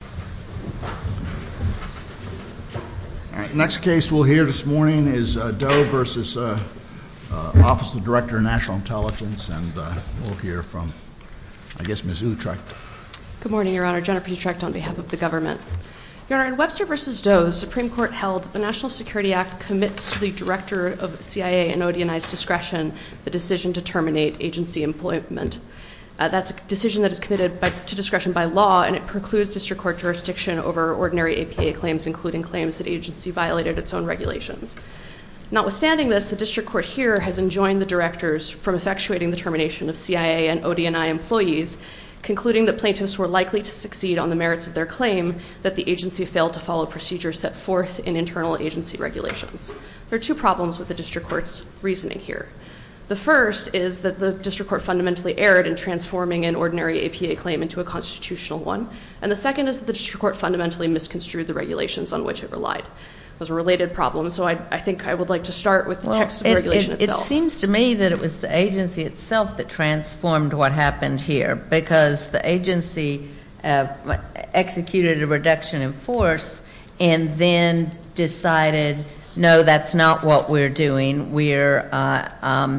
and we'll hear from, I guess, Ms. Utrecht. Good morning, Your Honor. Jennifer Utrecht on behalf of the government. Your Honor, in Webster v. Doe, the Supreme Court held that the National Security Act commits to the director of CIA and ODNI's discretion the decision to terminate agency employment. That's a decision that is committed to discretion by law, and it precludes District Court decision to terminate agency employment. There are two problems with the District Court's reasoning here. APA claim into a constitutional one, and the second is that the District Court has violated its own regulations. Notwithstanding this, the District Court here has enjoined the directors from effectuating the termination of CIA and ODNI employees, concluding that plaintiffs were likely to succeed on the merits of their claim, that the agency failed to follow procedures set forth in internal agency regulations. There are two problems with the District Court's reasoning here. The first is that the District Court fundamentally erred in transforming an ordinary APA claim into a constitutional one, and the second is that the District Court fundamentally misconstrued the regulations on which it relied. Those are related problems, so I think I would like to start with the text of the regulation itself. It seems to me that it was the agency itself that transformed what happened here, because the agency executed a reduction in force and then decided, no, that's not what we're doing, we're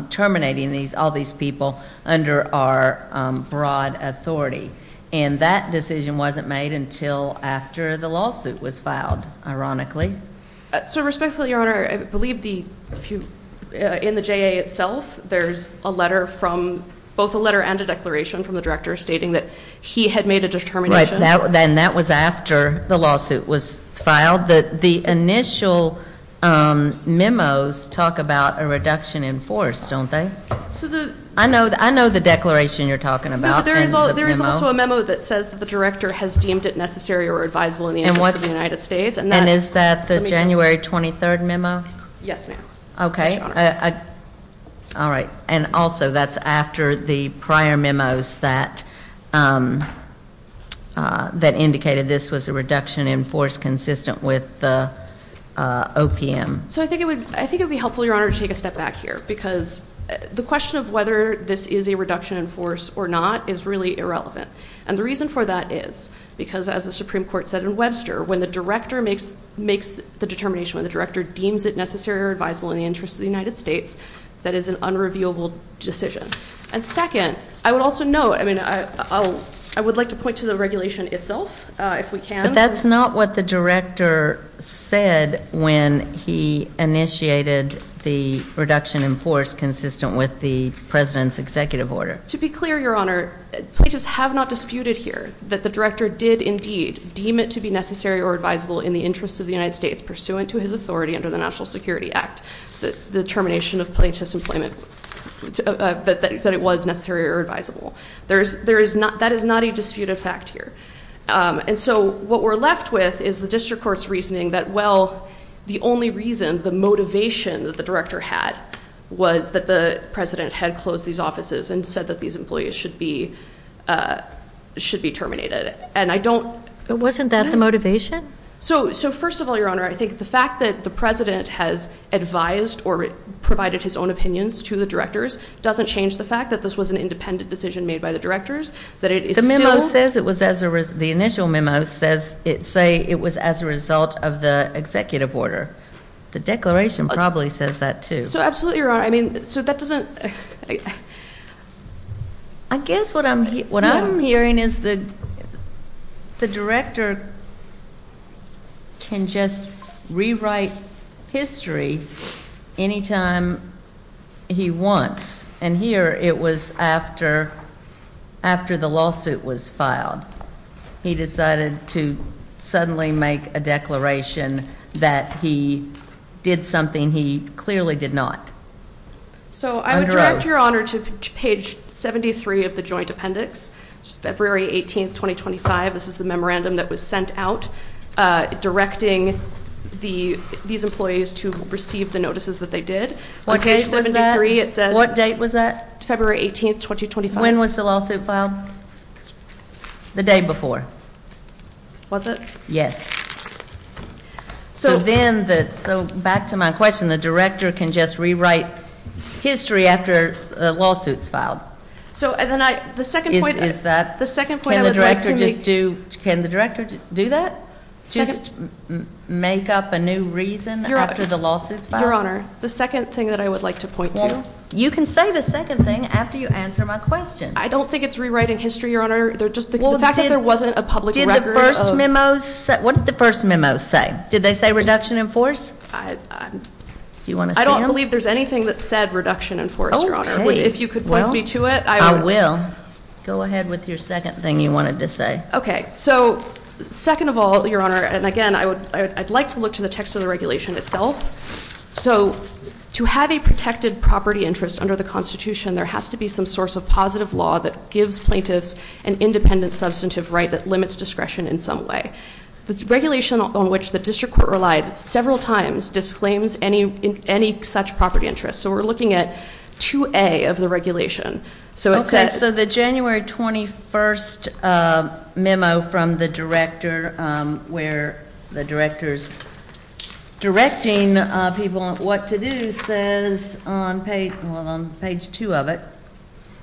terminating all these people under our broad authority. And that decision wasn't made until after the lawsuit was filed, ironically. So respectfully, Your Honor, I believe in the JA itself there's a letter from, both a letter and a declaration from the director stating that he had made a determination. Right, and that was after the lawsuit was filed. The initial memos talk about a reduction in force, don't they? I know the declaration you're talking about. No, but there is also a memo that says that the director has deemed it necessary or advisable in the interest of the United States. And is that the January 23rd memo? Yes, ma'am. All right. And also, that's after the prior memos that indicated this was a reduction in force consistent with the OPM. So I think it would be helpful, Your Honor, to take a step back here, because the question of whether this is a reduction in force or not is really irrelevant. And the reason for that is, because as the Supreme Court said in Webster, when the director makes the determination, when the director deems it necessary or advisable in the interest of the United States, that is an unreviewable decision. And second, I would also note, I mean, I would like to point to the regulation itself, if we can. But that's not what the director said when he initiated the reduction in force consistent with the President's executive order. To be clear, Your Honor, plaintiffs have not disputed here that the director did indeed deem it to be necessary or advisable in the interest of the United States, pursuant to his authority under the National Security Act, the termination of plaintiff's employment, that it was necessary or advisable. That is not a disputed fact here. And so what we're left with is the district court's reasoning that, well, the only reason, the motivation that the director had was that the President had closed these offices and said that these employees should be terminated. And I don't... But wasn't that the motivation? So first of all, Your Honor, I think the fact that the President has advised or provided his own opinions to the directors doesn't change the fact that this was an independent decision made by the directors, that it is still... The memo says it was as a... The initial memo says it was as a result of the executive order. The declaration probably says that, too. So absolutely, Your Honor. I mean, so that doesn't... I guess what I'm hearing is that the director can just rewrite history any time he wants. And here it was after the lawsuit was filed. He decided to suddenly make a declaration that he did something he clearly did not. Under oath. So I would direct Your Honor to page 73 of the joint appendix, February 18, 2025. This is the memorandum that was sent out directing these employees to receive the notices that they did. What page was that? What date was that? February 18, 2025. When was the lawsuit filed? The day before. Was it? Yes. So then, back to my question, the director can just rewrite history after the lawsuit's filed? Is that... Can the director just do... Just make up a new reason after the lawsuit's filed? Your Honor, the second thing that I would like to point to... You can say the second thing after you answer my question. I don't think it's rewriting history, Your Honor. The fact that there wasn't a public record... What did the first memo say? Did they say reduction in force? I don't believe there's anything that said reduction in force, Your Honor. If you could point me to it... I will. Go ahead with your second thing you wanted to say. Okay. So, second of all, Your Honor, and again, I'd like to look to the text of the regulation itself. So, to have a protected property interest under the Constitution, there has to be some source of positive law that gives plaintiffs an independent substantive right that limits discretion in some way. The regulation on which the district court relied several times disclaims any such property interest. So we're looking at 2A of the regulation. Okay, so the January 21st memo from the director where the director's directing people on what to do says on page 2 of it...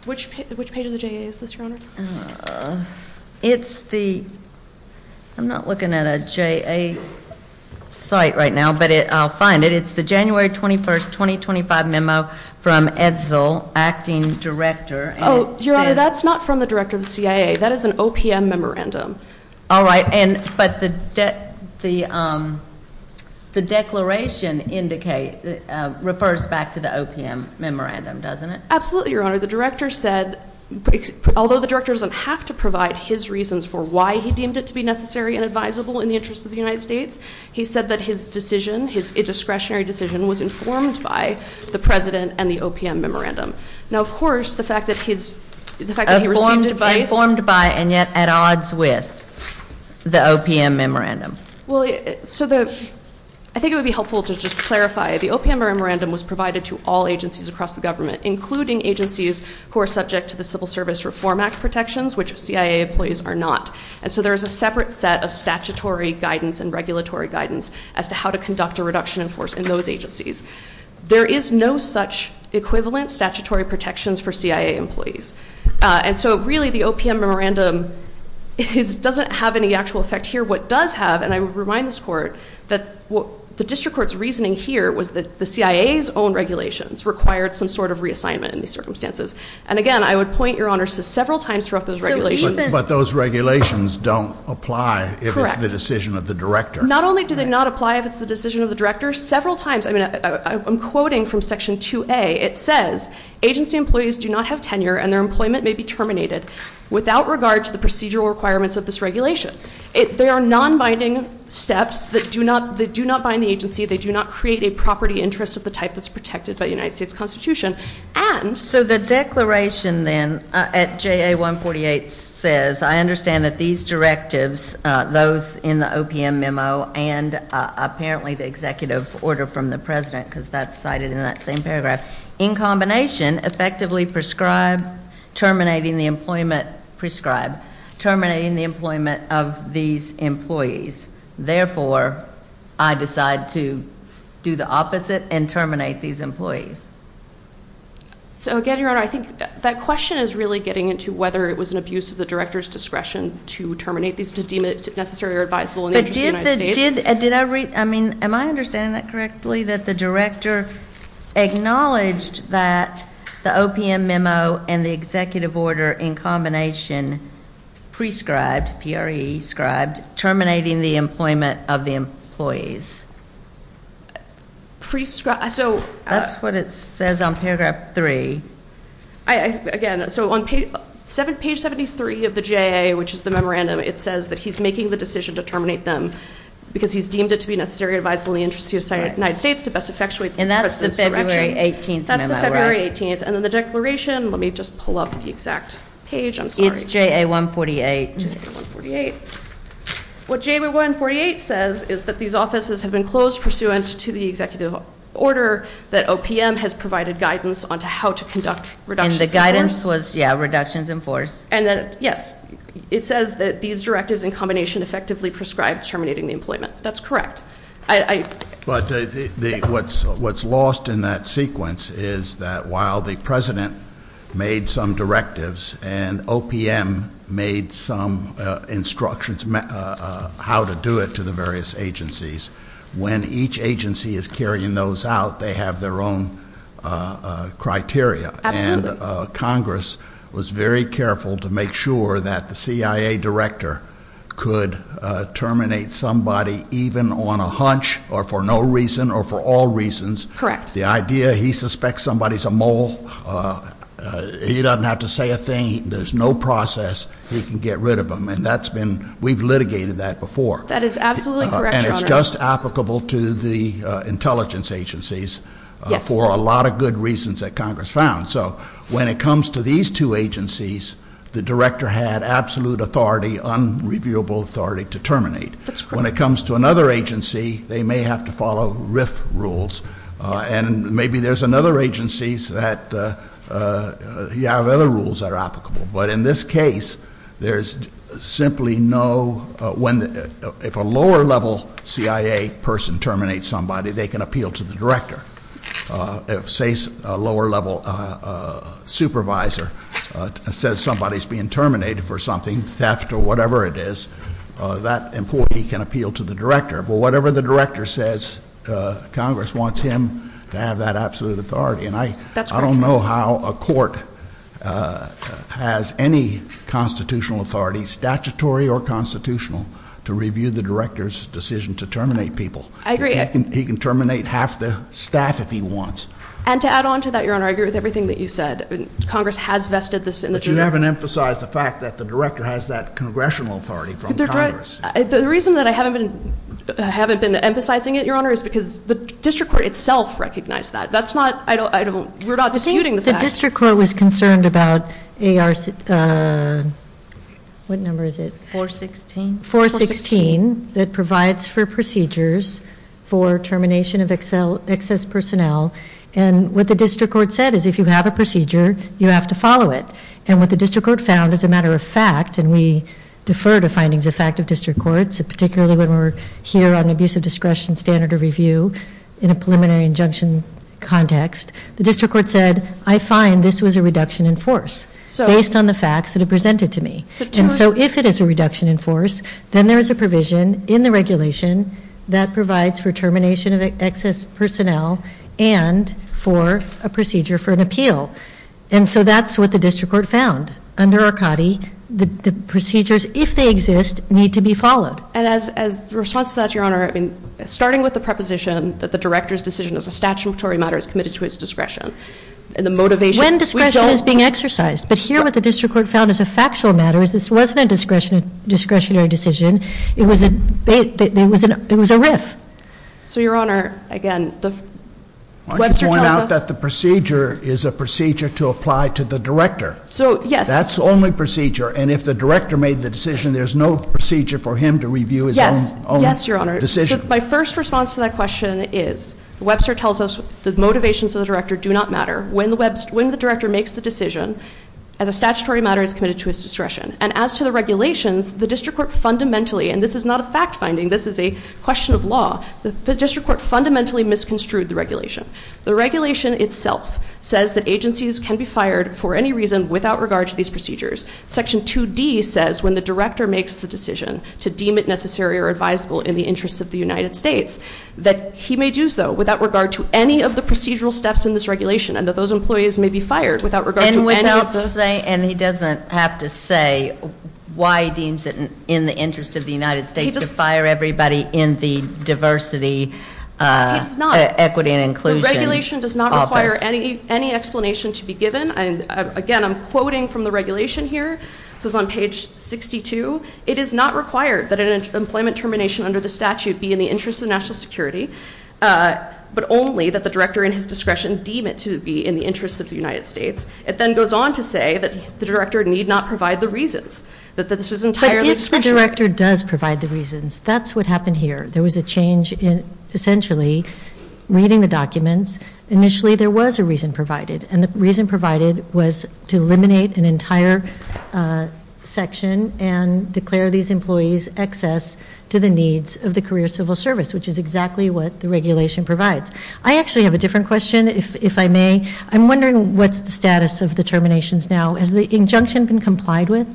Which page of the JA is this, Your Honor? It's the... I'm not looking at a JA site right now, but I'll find it. It's the January 21st, 2025 memo from Edsel, acting director. Oh, Your Honor, that's not from the director of the CIA. That is an OPM memorandum. All right, but the declaration refers back to the OPM memorandum, doesn't it? Absolutely, Your Honor. The director said although the director doesn't have to provide his reasons for why he deemed it to be necessary and advisable in the interest of the United States, he said that his decision, his indiscretionary decision, was informed by the president and the OPM memorandum. Now, of course, the fact that his... Informed by and yet at odds with the OPM memorandum. Well, so the... I think it would be helpful to just clarify. The OPM memorandum was provided to all agencies across the government, including agencies who are subject to the Civil Service Reform Act protections, which CIA employees are not. And so there is a separate set of statutory guidance and regulatory guidance as to how to conduct a reduction in force in those agencies. There is no such equivalent statutory protections for CIA employees. And so really the OPM memorandum doesn't have any actual effect here. What does have, and I would remind this Court, that the district court's reasoning here was that the CIA's own regulations required some sort of reassignment in these circumstances. And again, I would point, Your Honor, to several times throughout those regulations... But those regulations don't apply if it's the decision of the director. Correct. Not only do they not apply if it's the decision of the director, several times... I'm quoting from Section 2A. It says, agency employees do not have tenure and their employment may be terminated without regard to the procedural requirements of this regulation. They are non-binding steps that do not bind the agency. They do not create a property interest of the type that's protected by the United States Constitution. And... So the declaration then at JA 148 says, I understand that these directives, those in the OPM memo, and apparently the executive order from the President, because that's cited in that same paragraph, in combination, effectively prescribe terminating the employment, prescribe, terminating the employment of these employees. Therefore, I decide to do the opposite and terminate these employees. So again, Your Honor, I think that question is really getting into whether it was an abuse of the director's discretion to terminate these employees or to deem it necessary or advisable in the interest of the United States. Am I understanding that correctly? That the director acknowledged that the OPM memo and the executive order in combination prescribed, P-R-E-E, prescribed terminating the employment of the employees. Prescribed? That's what it says on paragraph 3. Again, so on page 73 of the JA, which is the memorandum, it says that he's making the decision to terminate them because he's deemed it to be necessary or advisable in the interest of the United States to best effectuate the President's direction. And that's the February 18th memo, right? That's the February 18th. And then the declaration, let me just pull up the exact page, I'm sorry. It's JA 148. It's JA 148. What JA 148 says is that these offices have been closed pursuant to the executive order that OPM has provided guidance on how to conduct reductions in force. And the guidance was reductions in force. And yes, it says that these directives in combination effectively prescribed terminating the employment. That's correct. But what's lost in that sequence is that while the President made some directives and OPM made some instructions how to do it to the various agencies, when each agency is carrying those out, they have their own criteria. Absolutely. And Congress was very careful to make sure that the CIA director could terminate somebody even on a hunch or for no reason or for all reasons. Correct. The idea, he suspects somebody's a mole. He doesn't have to say a thing. There's no process. He can get rid of them. And that's been, we've litigated that before. That is absolutely correct, Your Honor. And it's just applicable to the intelligence agencies. Yes. For a lot of good reasons that Congress found. So when it comes to these two agencies, the director had absolute authority, unreviewable authority to terminate. That's correct. When it comes to another agency, they may have to follow RIF rules. And maybe there's another agency that you have other rules that are applicable. But in this case, there's simply no, if a lower level CIA person terminates somebody, they can appeal to the director. If, say, a lower level supervisor says somebody's being terminated for something, theft or whatever it is, that employee can appeal to the director. But whatever the director says, Congress wants him to have that absolute authority. And I don't know how a court has any constitutional authority, statutory or constitutional, to review the director's decision to terminate people. I agree. He can terminate half the staff if he wants. And to add on to that, Your Honor, I agree with everything that you said. Congress has vested this in the But you haven't emphasized the fact that the director has that congressional authority from Congress. The reason that I haven't been emphasizing it, Your Honor, is because the district court itself recognized that. That's not, I don't, we're not disputing the fact. The district court was concerned about AR what number is it? 416. 416 that provides for procedures for termination of excess personnel. And what the district court said is if you have a procedure, you have to follow it. And what the district court found, as a matter of fact, and we defer to findings of fact of district courts, particularly when we're here on abuse of discretion, standard of review, in a preliminary injunction context, the district court said, I find this was a reduction in force based on the facts that it presented to me. And so if it is a reduction in force, then there is a provision in the regulation that provides for termination of excess personnel and for a procedure for an appeal. And so that's what the district court found. Under Arcadi, the procedures, if they exist, need to be followed. And as a response to that, Your Honor, I mean, starting with the preposition that the director's decision as a statutory matter is committed to his discretion and the motivation. When discretion is being exercised. But here what the district court found as a factual matter is this wasn't a discretionary decision. It was a rift. So, Your Honor, again, Webster tells us... Why don't you point out that the procedure is a procedure to apply to the director. So, yes. That's the only procedure. And if the director made the decision, there's no procedure for him to review his own decision. Yes. Yes, Your Honor. My first response to that question is Webster tells us the motivations of the director do not matter. When the director makes the decision as a statutory matter is committed to his discretion. And as to the regulations, the district court fundamentally, and this is not a fact finding, this is a question of law, the district court fundamentally misconstrued the regulation. The regulation itself says that agencies can be fired for any reason without regard to these procedures. Section 2D says when the director makes the decision to deem it necessary or advisable in the interests of the United States, that he may do so without regard to any of the procedural steps in this regulation and that those employees may be fired without regard to any of the... And he doesn't have to say why he deems it in the interest of the United States to fire everybody in the diversity, equity and inclusion office. The regulation does not require any explanation to be given. Again, I'm quoting from the regulation here. This is on page 62. It is not required that an employment termination under the statute be in the interest of national security, but only that the director in his discretion deem it to be in the interest of the United States. It then goes on to say that the director need not provide the reasons, that this is entirely... But if the director does provide the reasons, that's what happened here. There was a change in essentially reading the documents. Initially there was a reason provided. And the reason provided was to eliminate an entire section and declare these employees access to the needs of the career civil service, which is exactly what the regulation provides. I actually have a different question, if I may. I'm wondering what's the status of the terminations now? Has the injunction been complied with?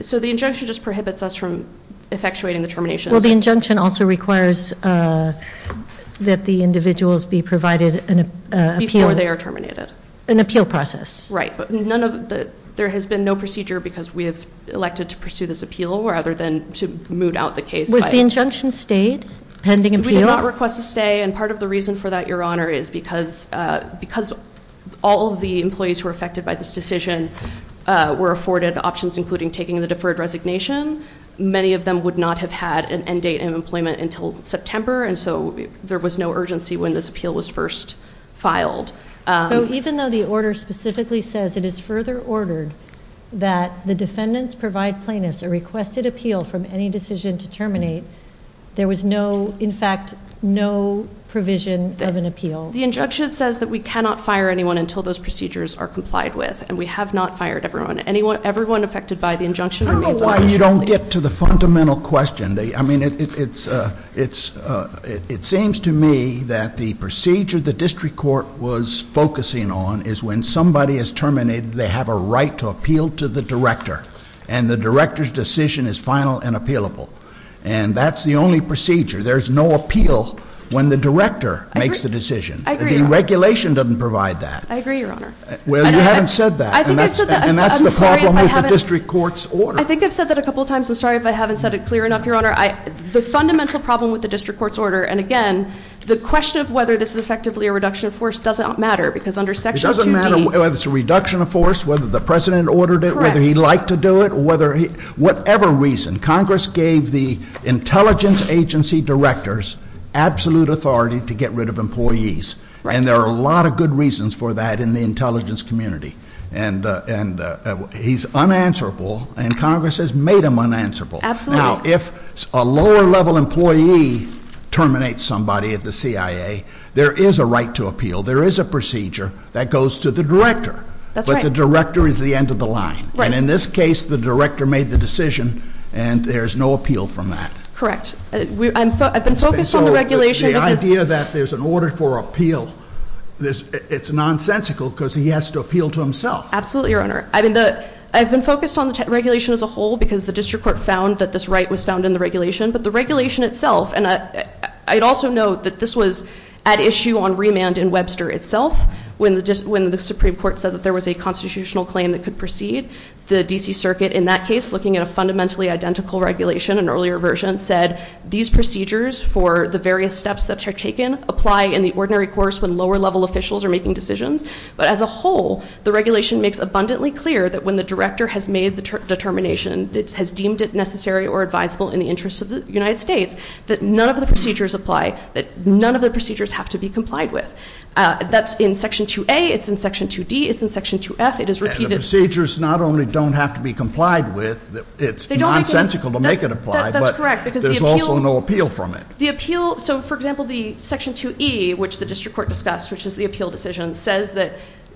So the injunction just prohibits us from effectuating the terminations. Well, the injunction also requires that the individuals be provided an appeal. Before they are terminated. An appeal process. Right. But none of the... There has been no procedure because we have elected to pursue this appeal rather than to moot out the case. Was the injunction stayed pending appeal? We did not request a stay. And part of the reason for that, Your Honor, is because all of the employees who were affected by this decision were afforded options including taking the deferred resignation. Many of them would not have had an end date of employment until September. And so there was no urgency when this appeal was first filed. So even though the order specifically says it is further ordered that the defendants provide plaintiffs a requested appeal from any decision to terminate, there was no, in fact, no provision of an appeal. The injunction says that we cannot fire anyone until those procedures are complied with. And we have not fired everyone. Everyone affected by the injunction remains officially... I don't know why you don't get to the fundamental question. It seems to me that the procedure the district court was focusing on is when somebody is terminated they have a right to appeal to the director. And the director's decision is final and appealable. And that's the only procedure. There's no appeal when the director makes the decision. I agree, Your Honor. The regulation doesn't provide that. I agree, Your Honor. Well, you haven't said that. And that's the problem with the district court's order. I think I've said that a couple times. I'm sorry if I haven't said it clear enough, Your Honor. The fundamental problem with the district court's order and, again, the question of whether this is effectively a reduction of force doesn't matter because under Section 2D... It doesn't matter whether it's a reduction of force, whether the President ordered it, whether he liked to do it, whatever reason, Congress gave the intelligence agency directors absolute authority to get rid of employees. And there are a lot of good reasons for that in the intelligence community. And he's unanswerable and Congress has made him unanswerable. Now, if a lower-level employee terminates somebody at the CIA, there is a right to appeal. There is a procedure that goes to the director. But the director is the end of the line. And in this case, the director made the decision and there's no appeal from that. Correct. I've been focused on the regulation... The idea that there's an order for appeal is nonsensical because he has to appeal to himself. Absolutely, Your Honor. I've been focused on the regulation as a whole because the district court found that this right was found in the regulation. But the regulation itself... I'd also note that this was at issue on remand in Webster itself when the Supreme Court said that there was a constitutional claim that could proceed. The D.C. Circuit, in that case, looking at a fundamentally identical regulation, an earlier version, said these procedures for the various steps that are taken apply in the ordinary course when lower-level officials are making decisions. But as a whole, the regulation makes abundantly clear that when the director has made the determination, has deemed it necessary or advisable in the interest of the United States, that none of the procedures apply, that none of the procedures have to be in Section 2A, it's in Section 2D, it's in Section 2F, it is repeated... And the procedures not only don't have to be complied with, it's nonsensical to make it apply, but there's also no appeal from it. The appeal... So, for example, the Section 2E, which the district court discussed, which is the appeal decision, says that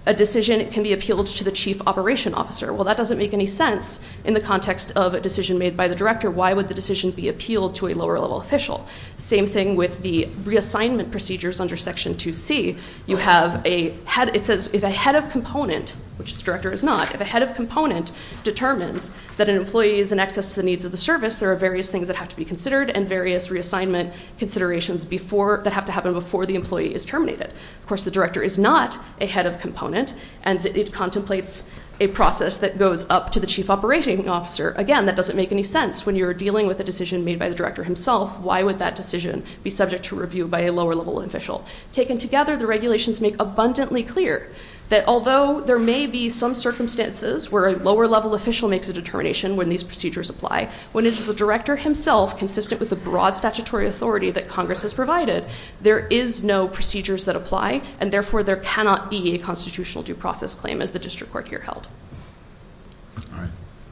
a decision can be appealed to the chief operation officer. Well, that doesn't make any sense in the context of a decision made by the director. Why would the decision be appealed to a lower-level official? Same thing with the reassignment procedures under Section 2C. You have a head... It says if a head of component, which the director is not, if a head of component determines that an employee is in excess to the needs of the service, there are various things that have to be considered and various reassignment considerations before... that have to happen before the employee is terminated. Of course, the director is not a head of component, and it contemplates a process that goes up to the chief operating officer. Again, that doesn't make any sense when you're dealing with a decision made by the director himself. Why would that decision be subject to review by a lower-level official? Taken together, the regulations make abundantly clear that although there may be some circumstances where a lower-level official makes a determination when these procedures apply, when it is the director himself consistent with the broad statutory authority that Congress has provided, there is no procedures that apply, and therefore there cannot be a constitutional due process claim as the district court here held.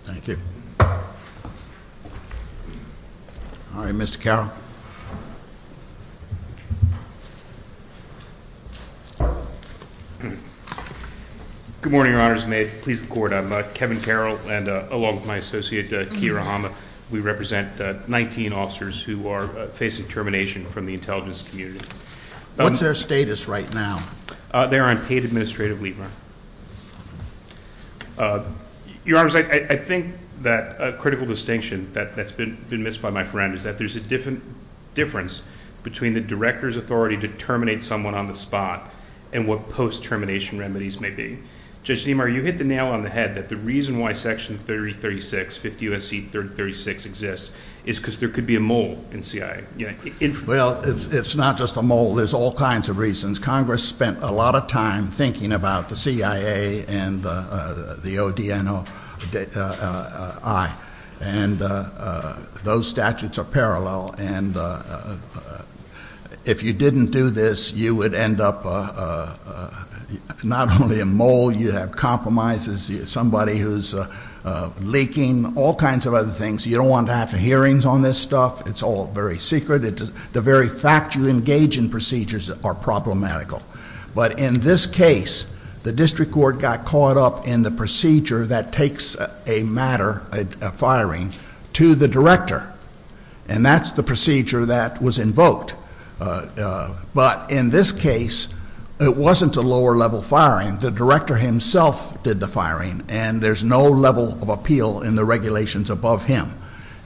Thank you. All right, Mr. Carroll. Good morning, Your Honors. May it please the Court, I'm Kevin Carroll, and along with my associate, Keira Hama, we represent 19 officers who are facing termination from the intelligence community. What's their status right now? They are on paid administrative leave, Your Honor. Your Honors, I think that a critical distinction that's been missed by my friend is that there's a difference between the director's authority to terminate someone on the spot and what post-termination remedies may be. Judge Niemeyer, you hit the nail on the head that the reason why Section 3036, 50 U.S.C. 336 exists is because there could be a mole in CIA. Well, it's not just a mole. There's all kinds of reasons. Congress spent a lot of time thinking about the CIA and the ODNOI, and those statutes are parallel, and if you didn't do this, you would end up not only a mole, you'd have compromises, somebody who's leaking, all kinds of other things. You don't want to have hearings on this stuff. It's all very secret. The very fact you engage in procedures are problematical. But in this case, the district court got caught up in the procedure that takes a matter of firing to the director, and that's the procedure that was invoked. But in this case, it wasn't a lower-level firing. The director himself did the firing, and there's no level of appeal in the regulations above him,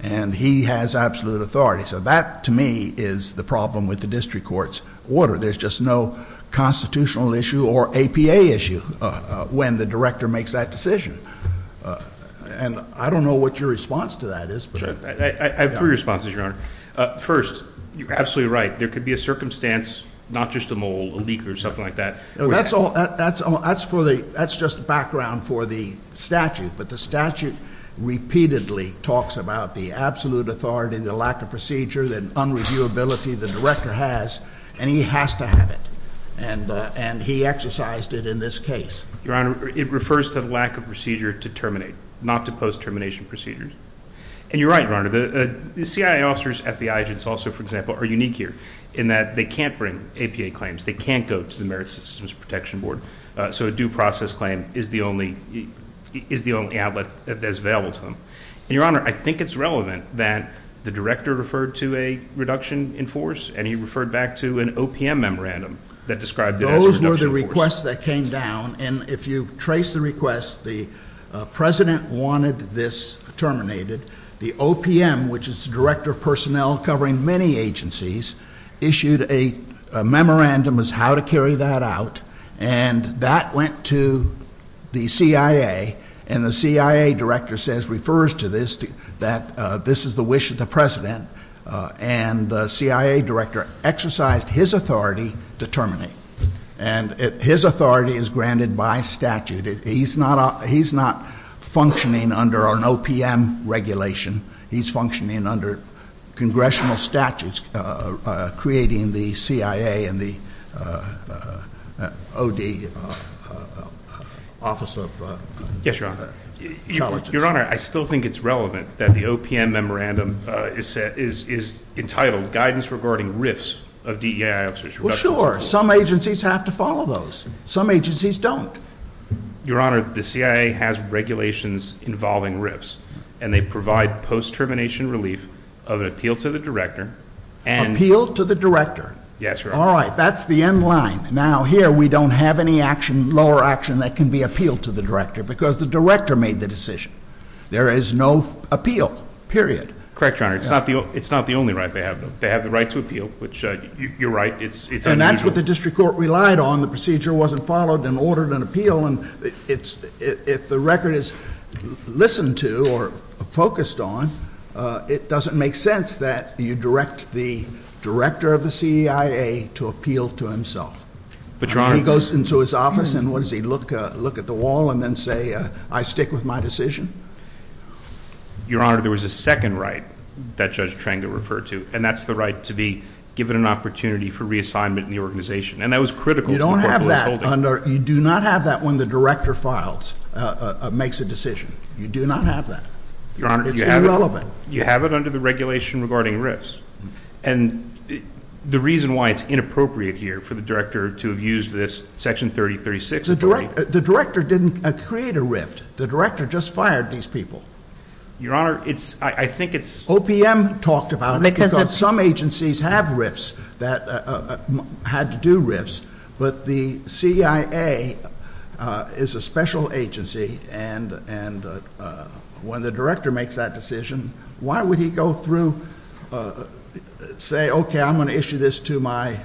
and he has absolute authority. So that, to me, is the problem with the district court's order. There's just no constitutional issue or APA issue when the director makes that decision. And I don't know what your response to that is. I have three responses, Your Honor. First, you're absolutely right. There could be a circumstance not just a mole, a leak, or something like that. That's just background for the statute, but the statute repeatedly talks about the absolute authority, the lack of procedure, the unreviewability the director has, and he has to have it. And he exercised it in this case. Your Honor, it refers to the lack of procedure to terminate, not to post-termination procedures. And you're right, Your Honor. The CIA officers at the IGINS also, for example, are unique here in that they can't bring APA claims. They can't go to the Merit Systems Protection Board. So a due process claim is the only outlet that's available to them. And Your Honor, I think it's relevant that the director referred to a reduction in force, and he referred back to an OPM memorandum that described it as a reduction in force. Those were the requests that came down, and if you trace the request, the President wanted this terminated. The OPM, which is the Director of Personnel covering many agencies, issued a memorandum as how to carry that out, and that went to the CIA, and the CIA director says, refers to this, that this is the wish of the President, and the CIA director exercised his authority to terminate. And his authority is granted by statute. He's not functioning under an OPM regulation. He's functioning under congressional statutes creating the CIA and the O.D. Office of Intelligence. Your Honor, I still think it's relevant that the OPM memorandum is entitled Guidance Regarding RIFs of DEI Officers. Well, sure. Some agencies have to follow those. Some agencies don't. Your Honor, the CIA has regulations involving RIFs, and they provide post-termination relief of an appeal to the director, and... Appeal to the director? Yes, Your Honor. All right. That's the end line. Now, here we don't have any action, lower action, that can be appealed to the director, because the director made the decision. There is no appeal, period. Correct, Your Honor. It's not the only right they have, though. They have the right to appeal, which, you're right, it's unusual. And that's what the district court relied on. The procedure wasn't followed, and ordered an appeal, and it's... If the record is listened to, or focused on, it doesn't make sense that you direct the director of the CIA to appeal to himself. But, Your Honor... He goes into his office, and what does he, look at the wall, and then say, I stick with my decision? Your Honor, there was a second right that Judge Tranga referred to, and that's the right to be given an opportunity for reassignment in the organization. And that was critical to the court that was holding it. You don't have that under, you do not have that when the director files, makes a decision. You do not have that. Your Honor, you have it... It's irrelevant. You have it under the regulation regarding RIFs. And the reason why it's inappropriate here for the director to have used this Section 3036 authority... The director didn't create a RIF. The director just fired these people. Your Honor, it's, I think it's... OPM talked about it, because some agencies have RIFs, that had to do RIFs, but the CIA is a special agency, and when the director makes that decision, why would he go through, say, okay, I'm going to issue this to my,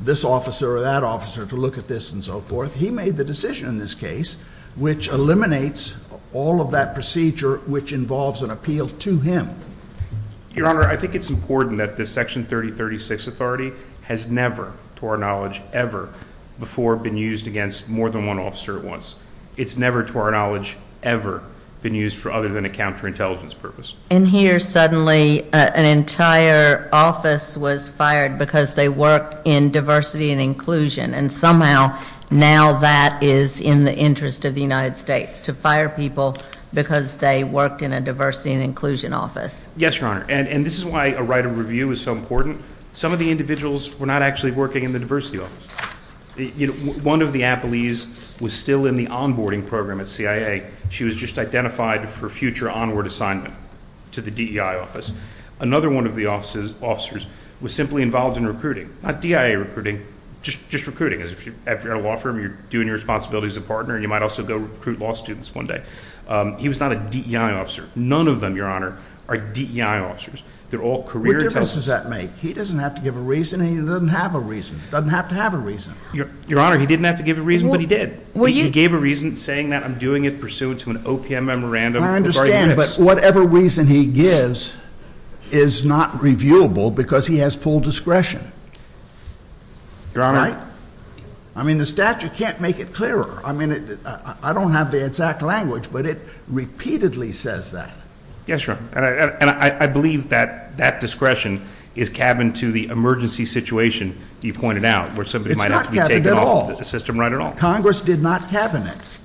this officer or that officer to look at this and so forth. He made the decision in this case, which eliminates all of that procedure, which involves an appeal to him. Your Honor, I think it's important that this Section 3036 authority has never, to our knowledge, ever before been used against more than one officer at once. It's never, to our knowledge, ever been used for other than a counterintelligence purpose. And here, suddenly, an entire office was fired because they work in diversity and inclusion. And somehow, now that is in the interest of the United States, to fire people because they worked in a diversity and inclusion office. Yes, Your Honor. And this is why a right of review is so important. Some of the individuals were not actually working in the diversity office. One of the appellees was still in the onboarding program at CIA. She was just identified for future onward assignment to the DEI office. Another one of the officers was simply involved in recruiting. Not DEI recruiting, just recruiting. After you're in a law firm, you're doing your responsibilities as a partner. You might also go recruit law students one day. He was not a DEI officer. None of them, Your Honor, are DEI officers. They're all career intelligence. What difference does that make? He doesn't have to give a reason. He doesn't have a reason. He doesn't have to have a reason. Your Honor, he didn't have to give a reason, but he did. He gave a reason saying that I'm doing it pursuant to an OPM memorandum. I understand, but whatever reason he gives is not reviewable because he has full discretion. Your Honor, I mean, the statute can't make it clearer. I mean, I don't have the exact language, but it repeatedly says that. Yes, Your Honor. And I believe that that discretion is cabined to the emergency situation you pointed out, where somebody might have to be taken off the system right at all. It's not cabined at all. Congress did not cabine it.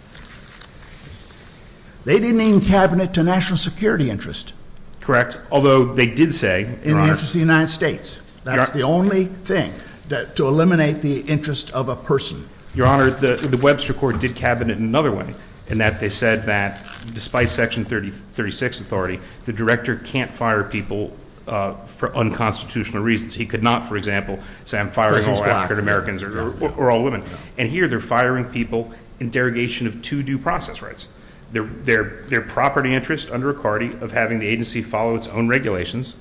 They didn't even cabine it to national security interest. Correct, although they did say... In the interest of the United States. That's the only thing to eliminate the interest of a person. Your Honor, the Webster Court did cabine it in another way, in that they said that despite Section 36 authority, the director can't fire people for unconstitutional reasons. He could not, for example, say I'm firing all African Americans or all women. And here they're firing people in derogation of two due process rights. Their property interest under a cardi of having the agency follow its own regulations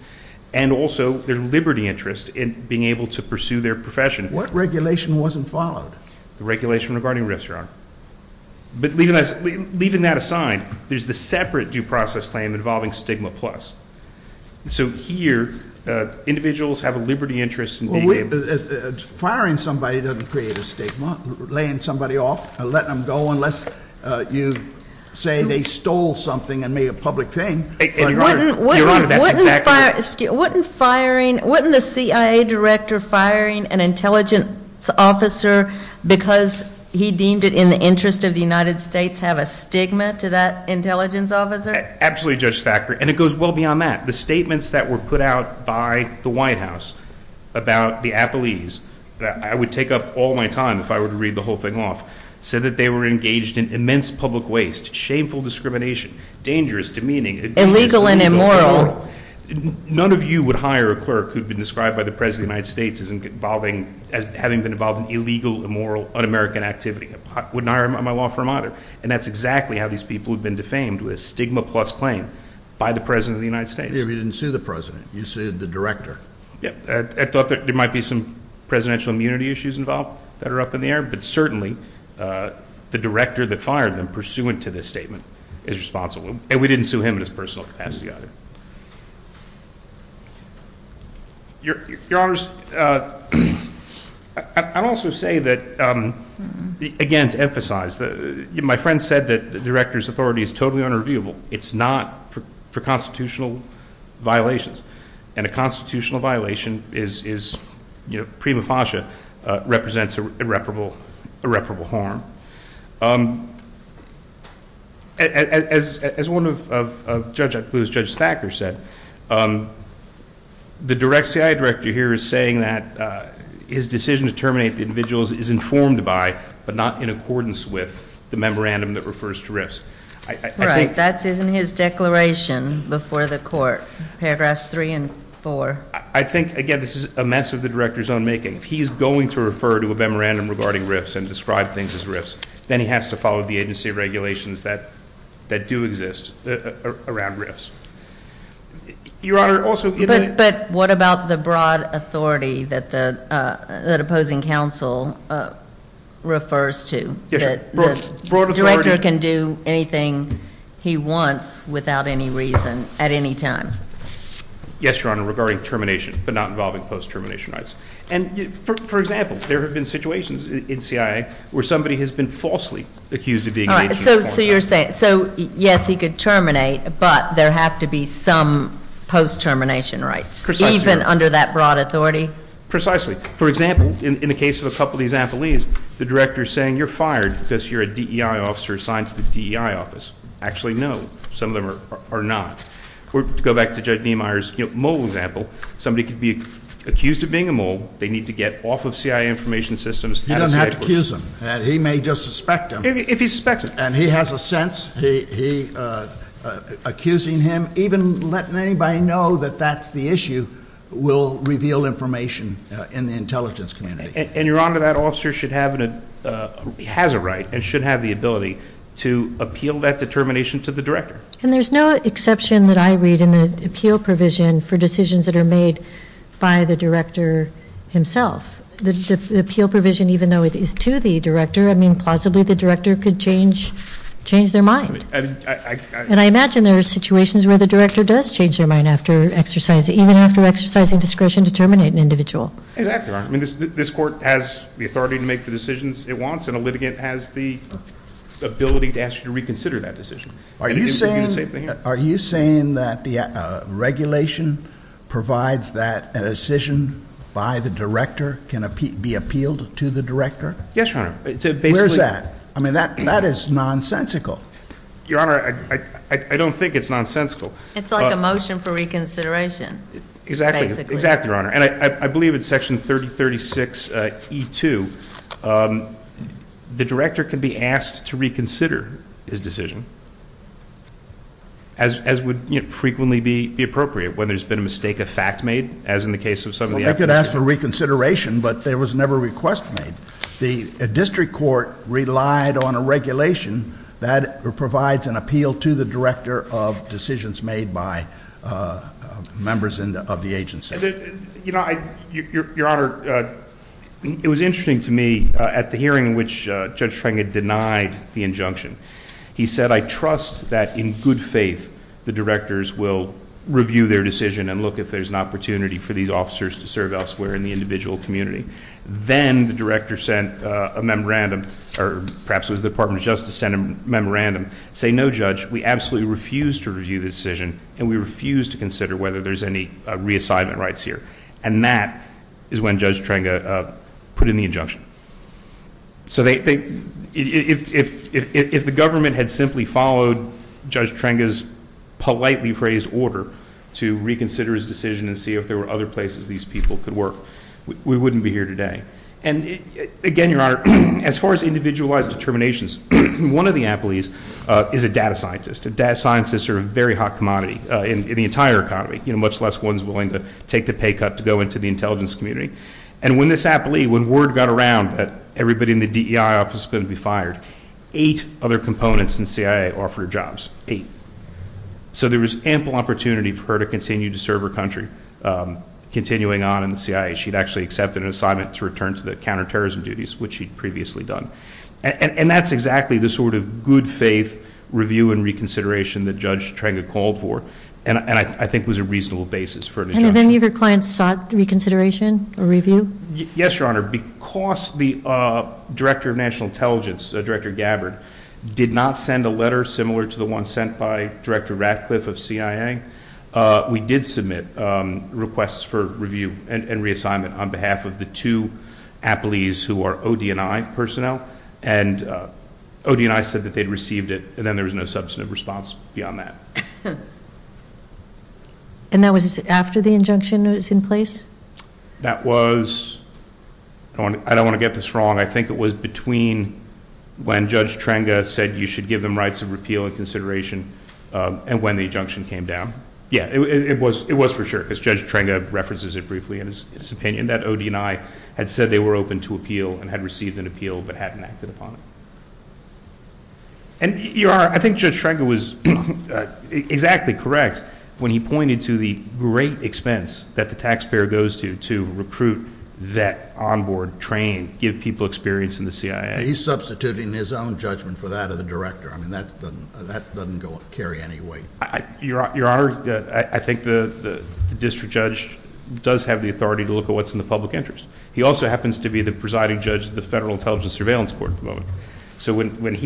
and also their liberty interest in being able to pursue their profession. What regulation wasn't followed? The regulation regarding risks, Your Honor. But leaving that aside, there's the separate due process claim involving stigma plus. So here individuals have a liberty interest in being able to... Well, firing somebody doesn't create a stigma. Laying somebody off or letting them go unless you say they stole something and made it a public thing. Your Honor, that's exactly right. Wouldn't firing, wouldn't the CIA director firing an intelligence officer because he deemed it in the interest of the United States have a stigma to that intelligence officer? Absolutely, Judge Thacker. And it goes well beyond that. The statements that were put out by the White House about the athletes, I would take up all my time if I were to read the whole thing off, said that they were engaged in immense public waste, shameful discrimination, dangerous, demeaning... Illegal and immoral. None of you would hire a clerk who'd been described by the President of the United States as having been involved in illegal, immoral, un-American activity. I wouldn't hire him on my law firm either. And that's exactly how these people have been defamed with a stigma plus claim by the President of the United States. You didn't sue the President. You sued the Director. I thought there might be some Presidential immunity issues involved that are up in the air, but certainly the Director that fired them pursuant to this statement is responsible. And we didn't sue him in his personal capacity either. Your Honors, I'd also say that again to emphasize, my friend said that the Director's authority is totally unreviewable. It's not for constitutional violations. And a constitutional violation is prima facie represents irreparable harm. As one of Judge Accus, Judge Thacker said, the CIA Director here is saying that his decision to terminate the individuals is informed by, but not in accordance with, the memorandum that refers to RIFs. Right. That's in his declaration before the Court. Paragraphs 3 and 4. I think, again, this is a mess of the Director's own making. If he's going to refer to a memorandum regarding RIFs and describe things as RIFs, then he has to follow the agency regulations that do exist around RIFs. Your Honor, also... But what about the broad authority that opposing counsel refers to? The Director can do anything he wants, without any reason, at any time. Yes, Your Honor, regarding termination, but not involving post-termination rights. For example, there have been situations in CIA where somebody has been falsely accused of being an agent. So you're saying, yes, he could terminate, but there have to be some post-termination rights. Precisely. Even under that broad authority? Precisely. For example, in the case of a couple of these affilies, the Director is saying, you're fired because you're a DEI officer assigned to the DEI office. Actually, no. Some of them are not. To go back to Judge Niemeyer's mole example, somebody could be accused of being a mole, they need to get off of CIA information systems... He doesn't have to accuse him. He may just suspect him. If he suspects him. And he has a sense. Accusing him, even letting anybody know that that's the issue, will reveal information in the intelligence community. And, Your Honor, that officer should have a right and should have the ability to appeal that determination to the Director. And there's no exception that I read in the appeal provision for decisions that are made by the Director himself. The appeal provision, even though it is to the Director, I mean, plausibly the Director could change their mind. And I imagine there are situations where the Director does change their mind after exercising discretion to terminate an individual. Exactly, Your Honor. This Court has the authority to make the decisions it wants, and a litigant has the ability to ask you to reconsider that decision. Are you saying that the regulation provides that a decision by the Director can be appealed to the Director? Yes, Your Honor. Where's that? I mean, that is nonsensical. Your Honor, I don't think it's nonsensical. It's like a motion for reconsideration. Exactly, Your Honor. And I believe it's Section 3036E2. The Director can be asked to reconsider his decision as would frequently be appropriate when there's been a mistake of fact made, as in the case of some of the I could ask for reconsideration, but there was never a request made. The District Court relied on a regulation that provides an appeal to the Director of decisions made by members of the agency. Your Honor, it was interesting to me at the hearing in which Judge Schrengen denied the injunction. He said, I trust that in good faith the Directors will review their decision and look if there's an opportunity for these officers to serve elsewhere in the individual community. Then the Director sent a memorandum, or perhaps it was the Department of Justice sent a memorandum saying, no, Judge, we absolutely refuse to review the decision and we refuse to consider whether there's any reassignment rights here. And that is when Judge Schrengen put in the injunction. So if the government had simply followed Judge Schrengen's politely phrased order to reconsider his decision and see if there were other places these people could work, we wouldn't be here today. And again, Your Honor, as far as individualized determinations, one of the employees is a data scientist. Data scientists are a very hot commodity in the entire economy. Much less one's willing to take the pay cut to go into the intelligence community. And when this happened, when word got around that everybody in the DEI office was going to be fired, eight other components in CIA offered jobs. Eight. So there was ample opportunity for her to continue to serve her country. Continuing on in the CIA, she'd actually accepted an assignment to return to the counterterrorism duties, which she'd previously done. And that's exactly the sort of good faith review and reconsideration that Judge Schrengen called for. And I think was a reasonable basis for an injunction. And have any of your clients sought reconsideration or review? Yes, Your Honor. Because the Director of National Intelligence, Director Gabbard, did not send a letter similar to the one sent by Director Ratcliffe of CIA, we did submit requests for review and reassignment on behalf of the two appellees who are OD&I personnel. And OD&I said that they'd received it, and then there was no substantive response beyond that. And that was after the injunction was in place? That was, I don't want to get this wrong, I think it was between when Judge Schrengen said you should give them rights of repeal and consideration and when the injunction came down. Yeah, it was for sure. Because Judge Schrengen references it briefly in his opinion that OD&I had said they were open to appeal and had received an appeal but hadn't acted upon it. And, Your Honor, I think Judge Schrengen was exactly correct when he pointed to the great expense that the taxpayer goes to to recruit, vet, onboard, train, give people experience in the CIA. He's substituting his own judgment for that of the Director. I mean, that doesn't carry any weight. Your Honor, I think the District Judge does have the authority to look at what's in the presiding judge of the Federal Intelligence Surveillance Court at the moment. So when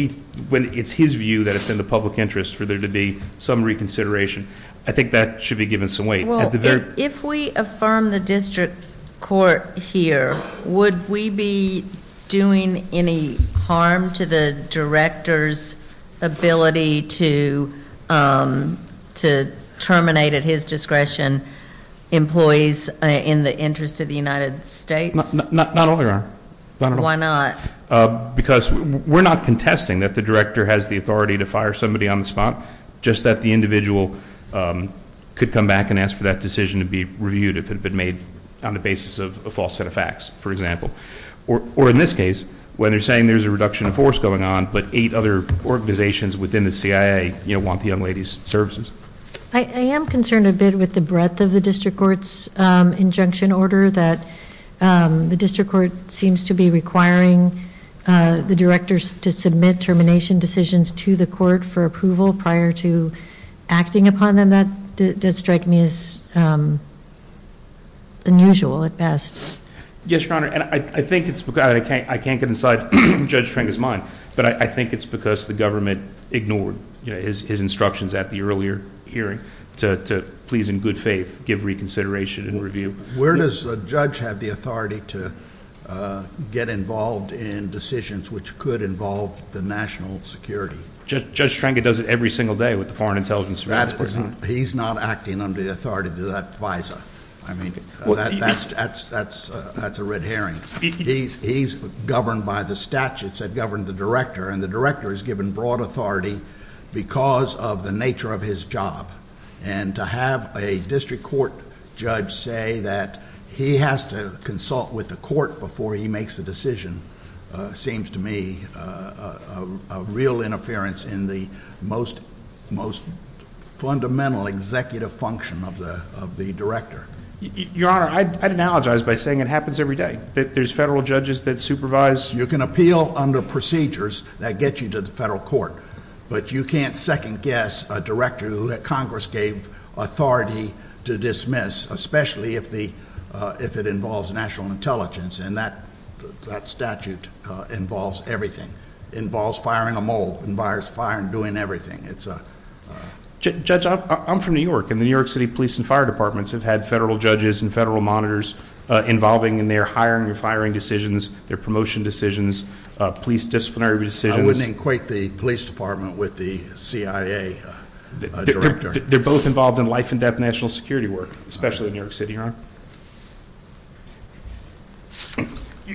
it's his view that it's in the public interest for there to be some reconsideration, I think that should be given some weight. Well, if we affirm the District Court here, would we be doing any harm to the Director's ability to terminate at his discretion employees in the interest of the United States? Not at all, Your Honor. Why not? Because we're not contesting that the Director has the authority to fire somebody on the spot. Just that the individual could come back and ask for that decision to be reviewed if it had been made on the basis of a false set of facts, for example. Or in this case, when they're saying there's a reduction of force going on but eight other organizations within the CIA want the young lady's services. I am concerned a bit with the breadth of the District Court's injunction order that the District Court seems to be requiring the Directors to submit termination decisions to the Court for approval prior to acting upon them. That does strike me as unusual at best. Yes, Your Honor. I can't get inside Judge Trenka's mind, but I think it's because the government ignored his instructions at the earlier hearing to please in good faith give reconsideration and review. Where does the Judge have the authority to get involved in decisions which could involve the national security? Judge Trenka does it every single day with the Foreign Intelligence Service. He's not acting under the authority of that FISA. I mean, that's a red herring. He's governed by the statutes that govern the Director, and the Director is given broad authority because of the nature of his job. And to have a District Court Judge say that he has to consult with the Court before he makes a decision seems to me a real interference in the most fundamental executive function of the Director. Your Honor, I'd analogize by saying it happens every day. There's Federal Judges that supervise. You can appeal under procedures that get you to the Federal Court, but you can't second guess a Director that Congress gave authority to dismiss, especially if it involves national intelligence. And that statute involves everything. It involves firing a mole. It involves firing and doing everything. Judge, I'm from New York, and the New York City Police and Fire Departments have had Federal Judges and Federal Monitors involving in their hiring and firing decisions, their promotion decisions, police disciplinary decisions. I wouldn't equate the Police Department with the CIA Director. They're both involved in life and death national security work, especially in New York City, Your Honor.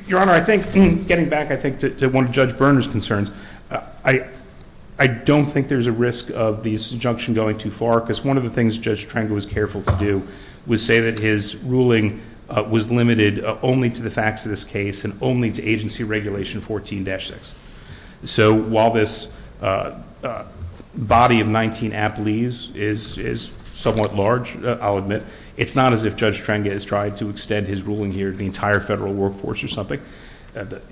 Your Honor, I think, getting back I think to one of Judge Berner's concerns, I don't think there's a risk of this injunction going too far, because one of the things Judge Trengel was careful to do was say that his ruling was limited only to the facts of this case, and only to Agency Regulation 14-6. So while this body of 19 appellees is somewhat large, I'll admit, it's not as if Judge Trengel has tried to extend his ruling here to the entire Federal workforce or something.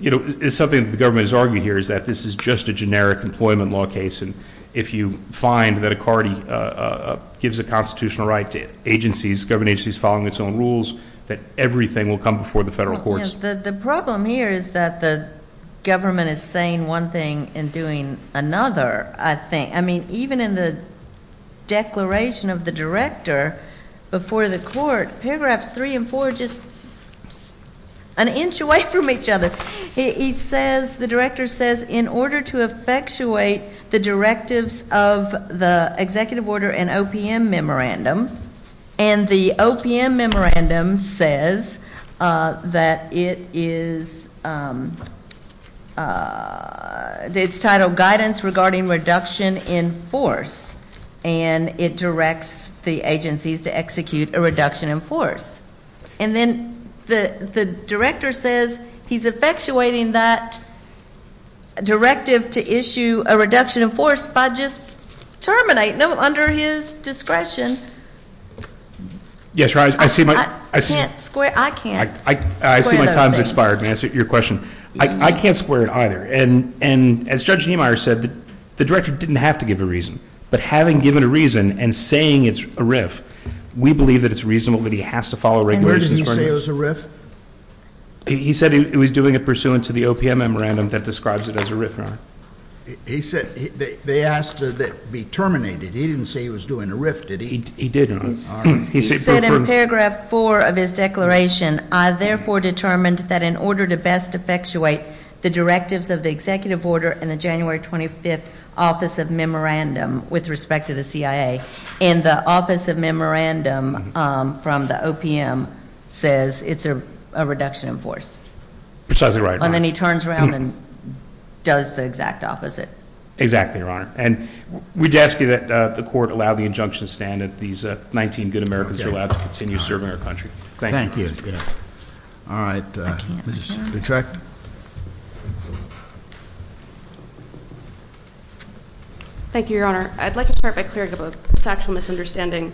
You know, it's something that the government has argued here, is that this is just a generic employment law case, and if you find that a party gives a constitutional right to agencies, government agencies following its own rules, that everything will come before the Federal courts. The problem here is that the government is saying one thing and doing another, I think. I mean, even in the declaration of the Director before the court, paragraphs 3 and 4 are just an inch away from each other. The Director says, in order to effectuate the directives of the Executive Order and OPM Memorandum, and the OPM Memorandum says that it is it's titled Guidance Regarding Reduction in Force, and it directs the agencies to execute a reduction in force. And then the Director says he's effectuating that directive to issue a reduction in force by just terminating it under his discretion. I can't square those things. I see my time has expired. May I answer your question? I can't square it either. And as Judge Niemeyer said, the Director didn't have to give a reason, but having given a reason and saying it's a RIF, we believe that it's reasonable that he has to follow regulations. And where did he say it was a RIF? He said he was doing it pursuant to the OPM Memorandum that describes it as a RIF, Your Honor. He said they asked that it be terminated. He didn't say he was doing a RIF, did he? He didn't. He said in paragraph 4 of his declaration, I therefore determined that in order to best effectuate the directives of the Executive Order and the January 25th Office of Memorandum with respect to the CIA, and the Office of Memorandum from the OPM says it's a reduction in force. Precisely right, Your Honor. And then he turns around and does the exact opposite. Exactly, Your Honor. And we'd ask you that the Court allow the injunction to stand that these 19 good Americans are allowed to continue serving our country. Thank you. All right, Ms. Littreck. Thank you, Your Honor. I'd like to start by clearing up a factual misunderstanding.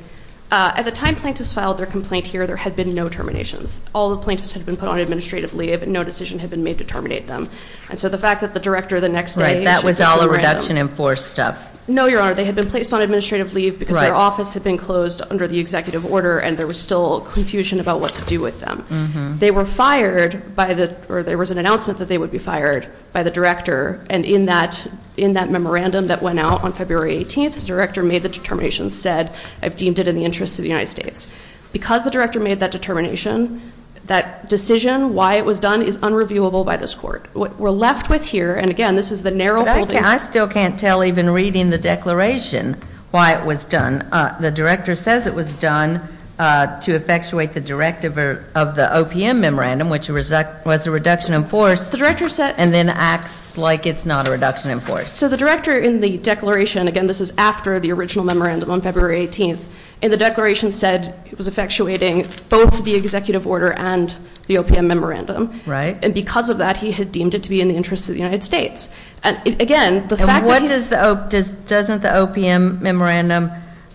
At the time plaintiffs filed their complaint here, there had been no terminations. All the plaintiffs had been put on administrative leave and no decision had been made to terminate them. And so the fact that the Director the next day That was all a reduction in force stuff. No, Your Honor. They had been placed on administrative leave because their office had been closed under the Executive Order and there was still confusion about what to do with them. They were fired by the, or there was an announcement that they would be fired by the Director, and in that memorandum that went out on February 18th, the Director made the determination and said I've deemed it in the interest of the United States. Because the Director made that determination, that decision, why it was done, is unreviewable by this Court. What we're left with here, and again, this is the narrow holding. But I still can't tell even reading the declaration why it was done. The Director says it was done to effectuate the directive of the OPM memorandum, which was a reduction in force. The Director said. And then acts like it's not a reduction in force. So the Director in the declaration, again, this is after the original memorandum on February 18th, in the declaration said it was effectuating both the Executive Order and the OPM memorandum. Right. And because of that, he had deemed it to be in the interest of the United States. And again, the fact that he. And what does the, doesn't the OPM memorandum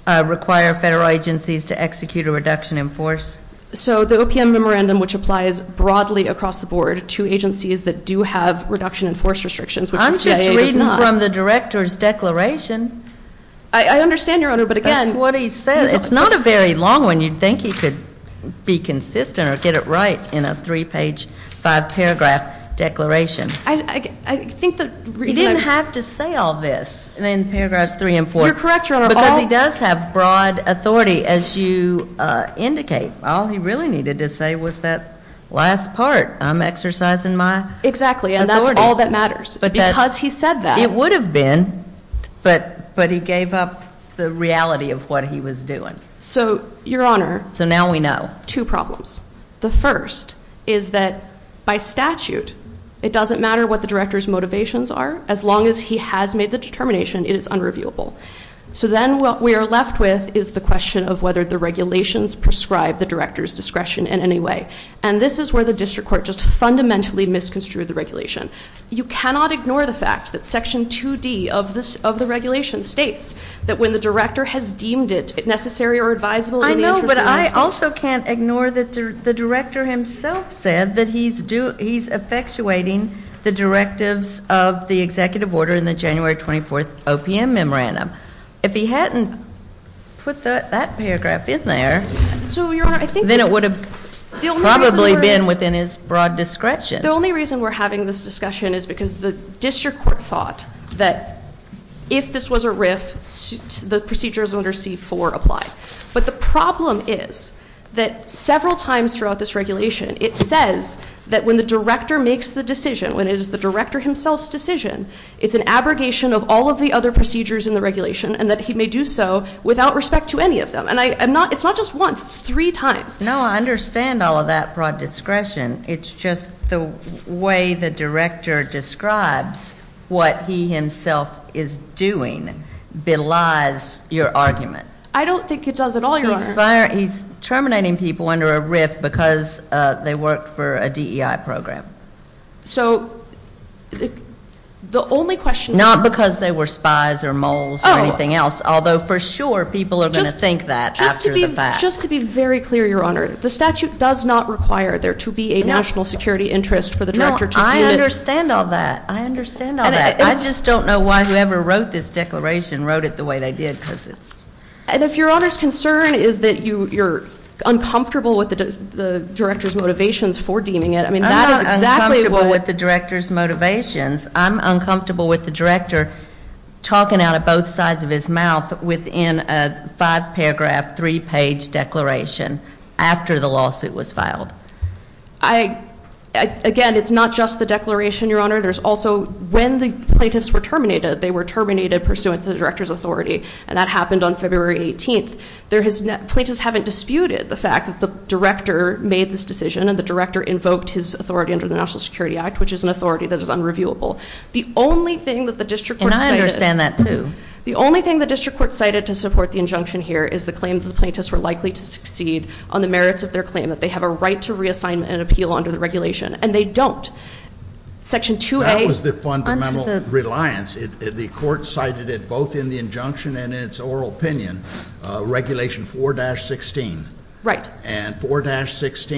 require Federal agencies to execute a reduction in force? So the OPM memorandum, which applies broadly across the board to agencies that do have reduction in force restrictions. I'm just reading from the Director's declaration. I understand, Your Honor, but again. That's what he says. It's not a very long one. You'd think he could be consistent or get it right in a three-page, five-paragraph declaration. I think the reason. He didn't have to say all this in paragraphs three and four. You're correct, Your Honor. Because he does have broad authority as you indicate. All he really needed to say was that last part. I'm exercising my authority. Exactly. And that's all that matters. Because he said that. It would have been. But he gave up the reality of what he was doing. So, Your Honor. So now we know. Two problems. The first is that by statute, it doesn't matter what the Director's motivations are. As long as he has made the determination, it is unreviewable. So then what we are left with is the question of whether the regulations prescribe the Director's discretion in any way. And this is where the District Court just fundamentally misconstrued the regulation. You cannot ignore the fact that Section 2D of the regulation states that when the Director has deemed it necessary or advisable. I know, but I also can't ignore that the Director himself said that he's effectuating the directives of the Executive Order in the January 24th OPM Memorandum. If he hadn't put that paragraph in there, then it would have probably been within his broad discretion. The only reason we're having this discussion is because the District Court thought that if this was a RIF, the procedures under C-4 apply. But the problem is that several times throughout this regulation, it says that when the Director makes the decision, when it is the Director himself's decision, it's an abrogation of all of the other procedures in the regulation and that he may do so without respect to any of them. And it's not just once. It's three times. No, I understand all of that broad discretion. It's just the way the Director describes what he himself is doing belies your argument. I don't think he does at all, Your Honor. He's terminating people under a RIF because they work for a DEI program. So, the only question... Not because they were spies or moles or anything else, although for sure people are going to think that after the fact. Just to be very clear, Your Honor, the statute does not require there to be a national security interest for the Director to do it. No, I understand all that. I just don't know why whoever wrote this declaration wrote it the way they did because it's... And if Your Honor's concern is that you're uncomfortable with the Director's motivations for deeming it... I'm not uncomfortable with the Director's motivations. I'm uncomfortable with the Director talking out of both sides of his mouth within a five-paragraph, three-page declaration after the lawsuit was filed. Again, it's not just the declaration, Your Honor. There's also when the plaintiffs were terminated, they were terminated pursuant to the Director's authority. And that happened on February 18th. There has... Plaintiffs haven't disputed the fact that the Director made this decision and the Director invoked his authority under the National Security Act, which is an authority that is unreviewable. The only thing that the district court cited... And I understand that, too. The only thing the district court cited to support the injunction here is the claim that the plaintiffs were likely to succeed on the merits of their claim, that they have a right to reassignment and appeal under the regulation. And they don't. Section 2A... That was the fundamental reliance. The court cited it both in the injunction and in its oral opinion, Regulation 4-16. Right. And 4-16 does not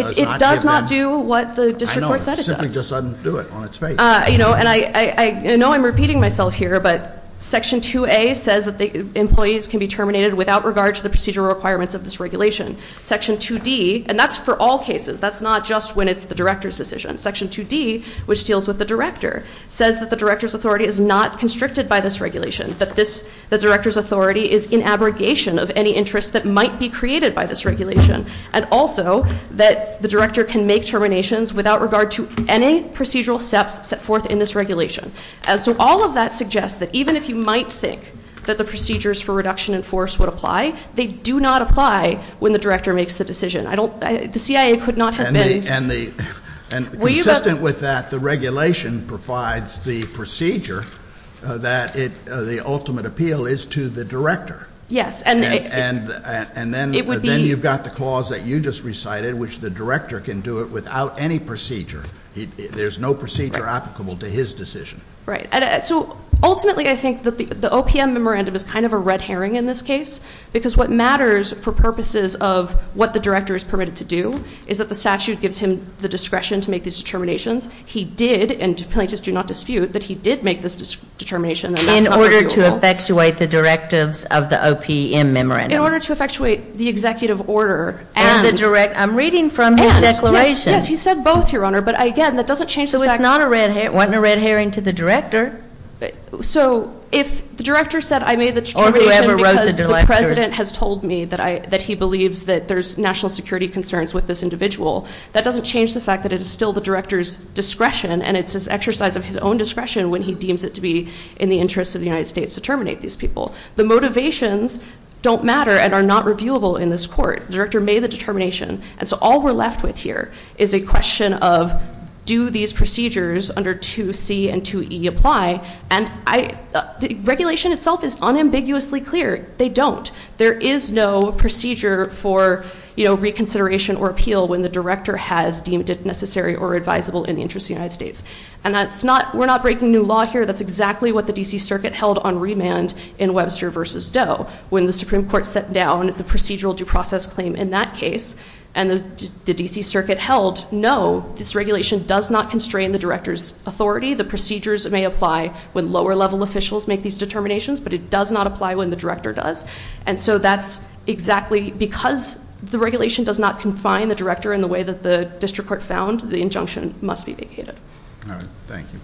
give them... It does not do what the district court said it does. I know. It simply doesn't do it on its face. You know, and I know I'm repeating myself here, but Section 2A says that the employees can be terminated without regard to the procedural requirements of this regulation. Section 2D, and that's for all cases. That's not just when it's the Director's decision. Section 2D, which deals with the Director, says that the Director's authority is not constricted by this regulation, that this... The Director's authority is in abrogation of any interests that might be created by this regulation, and also that the Director can make terminations without regard to any procedural steps set forth in this regulation. And so all of that suggests that even if you might think that the procedures for reduction in force would apply, they do not apply when the Director makes the decision. I don't... The CIA could not have been... And consistent with that, the regulation provides the procedure that the ultimate appeal is to the Director. Yes. And then you've got the clause that you just recited, which the Director can do it without any procedure. There's no procedure applicable to his decision. Right. So ultimately I think that the OPM memorandum is kind of a red herring in this case, because what matters for purposes of what the Director is permitted to do is that the statute gives him the discretion to make these determinations. He did, and plaintiffs do not dispute, that he did make this determination, and that's not arguable. In order to effectuate the directives of the OPM memorandum. In order to effectuate the executive order, and... And the direct... I'm reading from his declaration. And, yes, yes. He said both, Your Honor, but again, that doesn't change the fact... So it's not a red herring. It wasn't a red herring to the Director. So if the Director said I made the determination because the President has told me that he believes that there's national security concerns with this individual, that doesn't change the fact that it is still the Director's discretion, and it's his exercise of his own discretion when he deems it to be in the interest of the United States to terminate these people. The motivations don't matter and are not reviewable in this court. The Director made the determination, and so all we're left with here is a question of do these procedures under 2C and 2E apply, and I... The regulation itself is unambiguously clear. They don't. There is no procedure for, you know, reconsideration or appeal when the Director has deemed it necessary or advisable in the interest of the United States. And that's not... We're not breaking new law here. That's exactly what the D.C. Circuit held on remand in Webster v. Doe when the Supreme Court set down the procedural due process claim in that case, and the D.C. Circuit held, no, this regulation does not constrain the Director's authority. The procedures may apply when lower-level officials make these determinations, but it does not apply when the Director does, and so that's exactly... Because the regulation does not confine the Director in the way that the District Court found, the injunction must be vacated. All right. Thank you.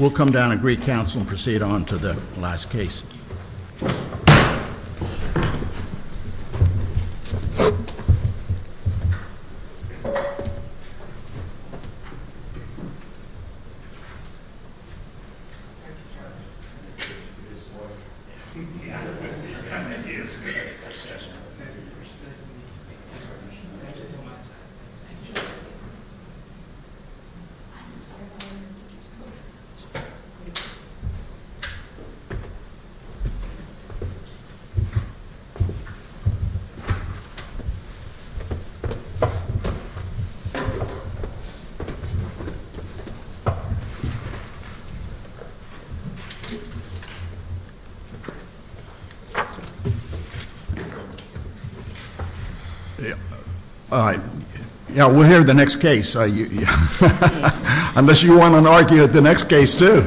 We'll come down and greet counsel and proceed on to the last case. Thank you, Judge. Thank you, Judge. All right. All right. Yeah, we'll hear the next case. Unless you want to argue at the next case too.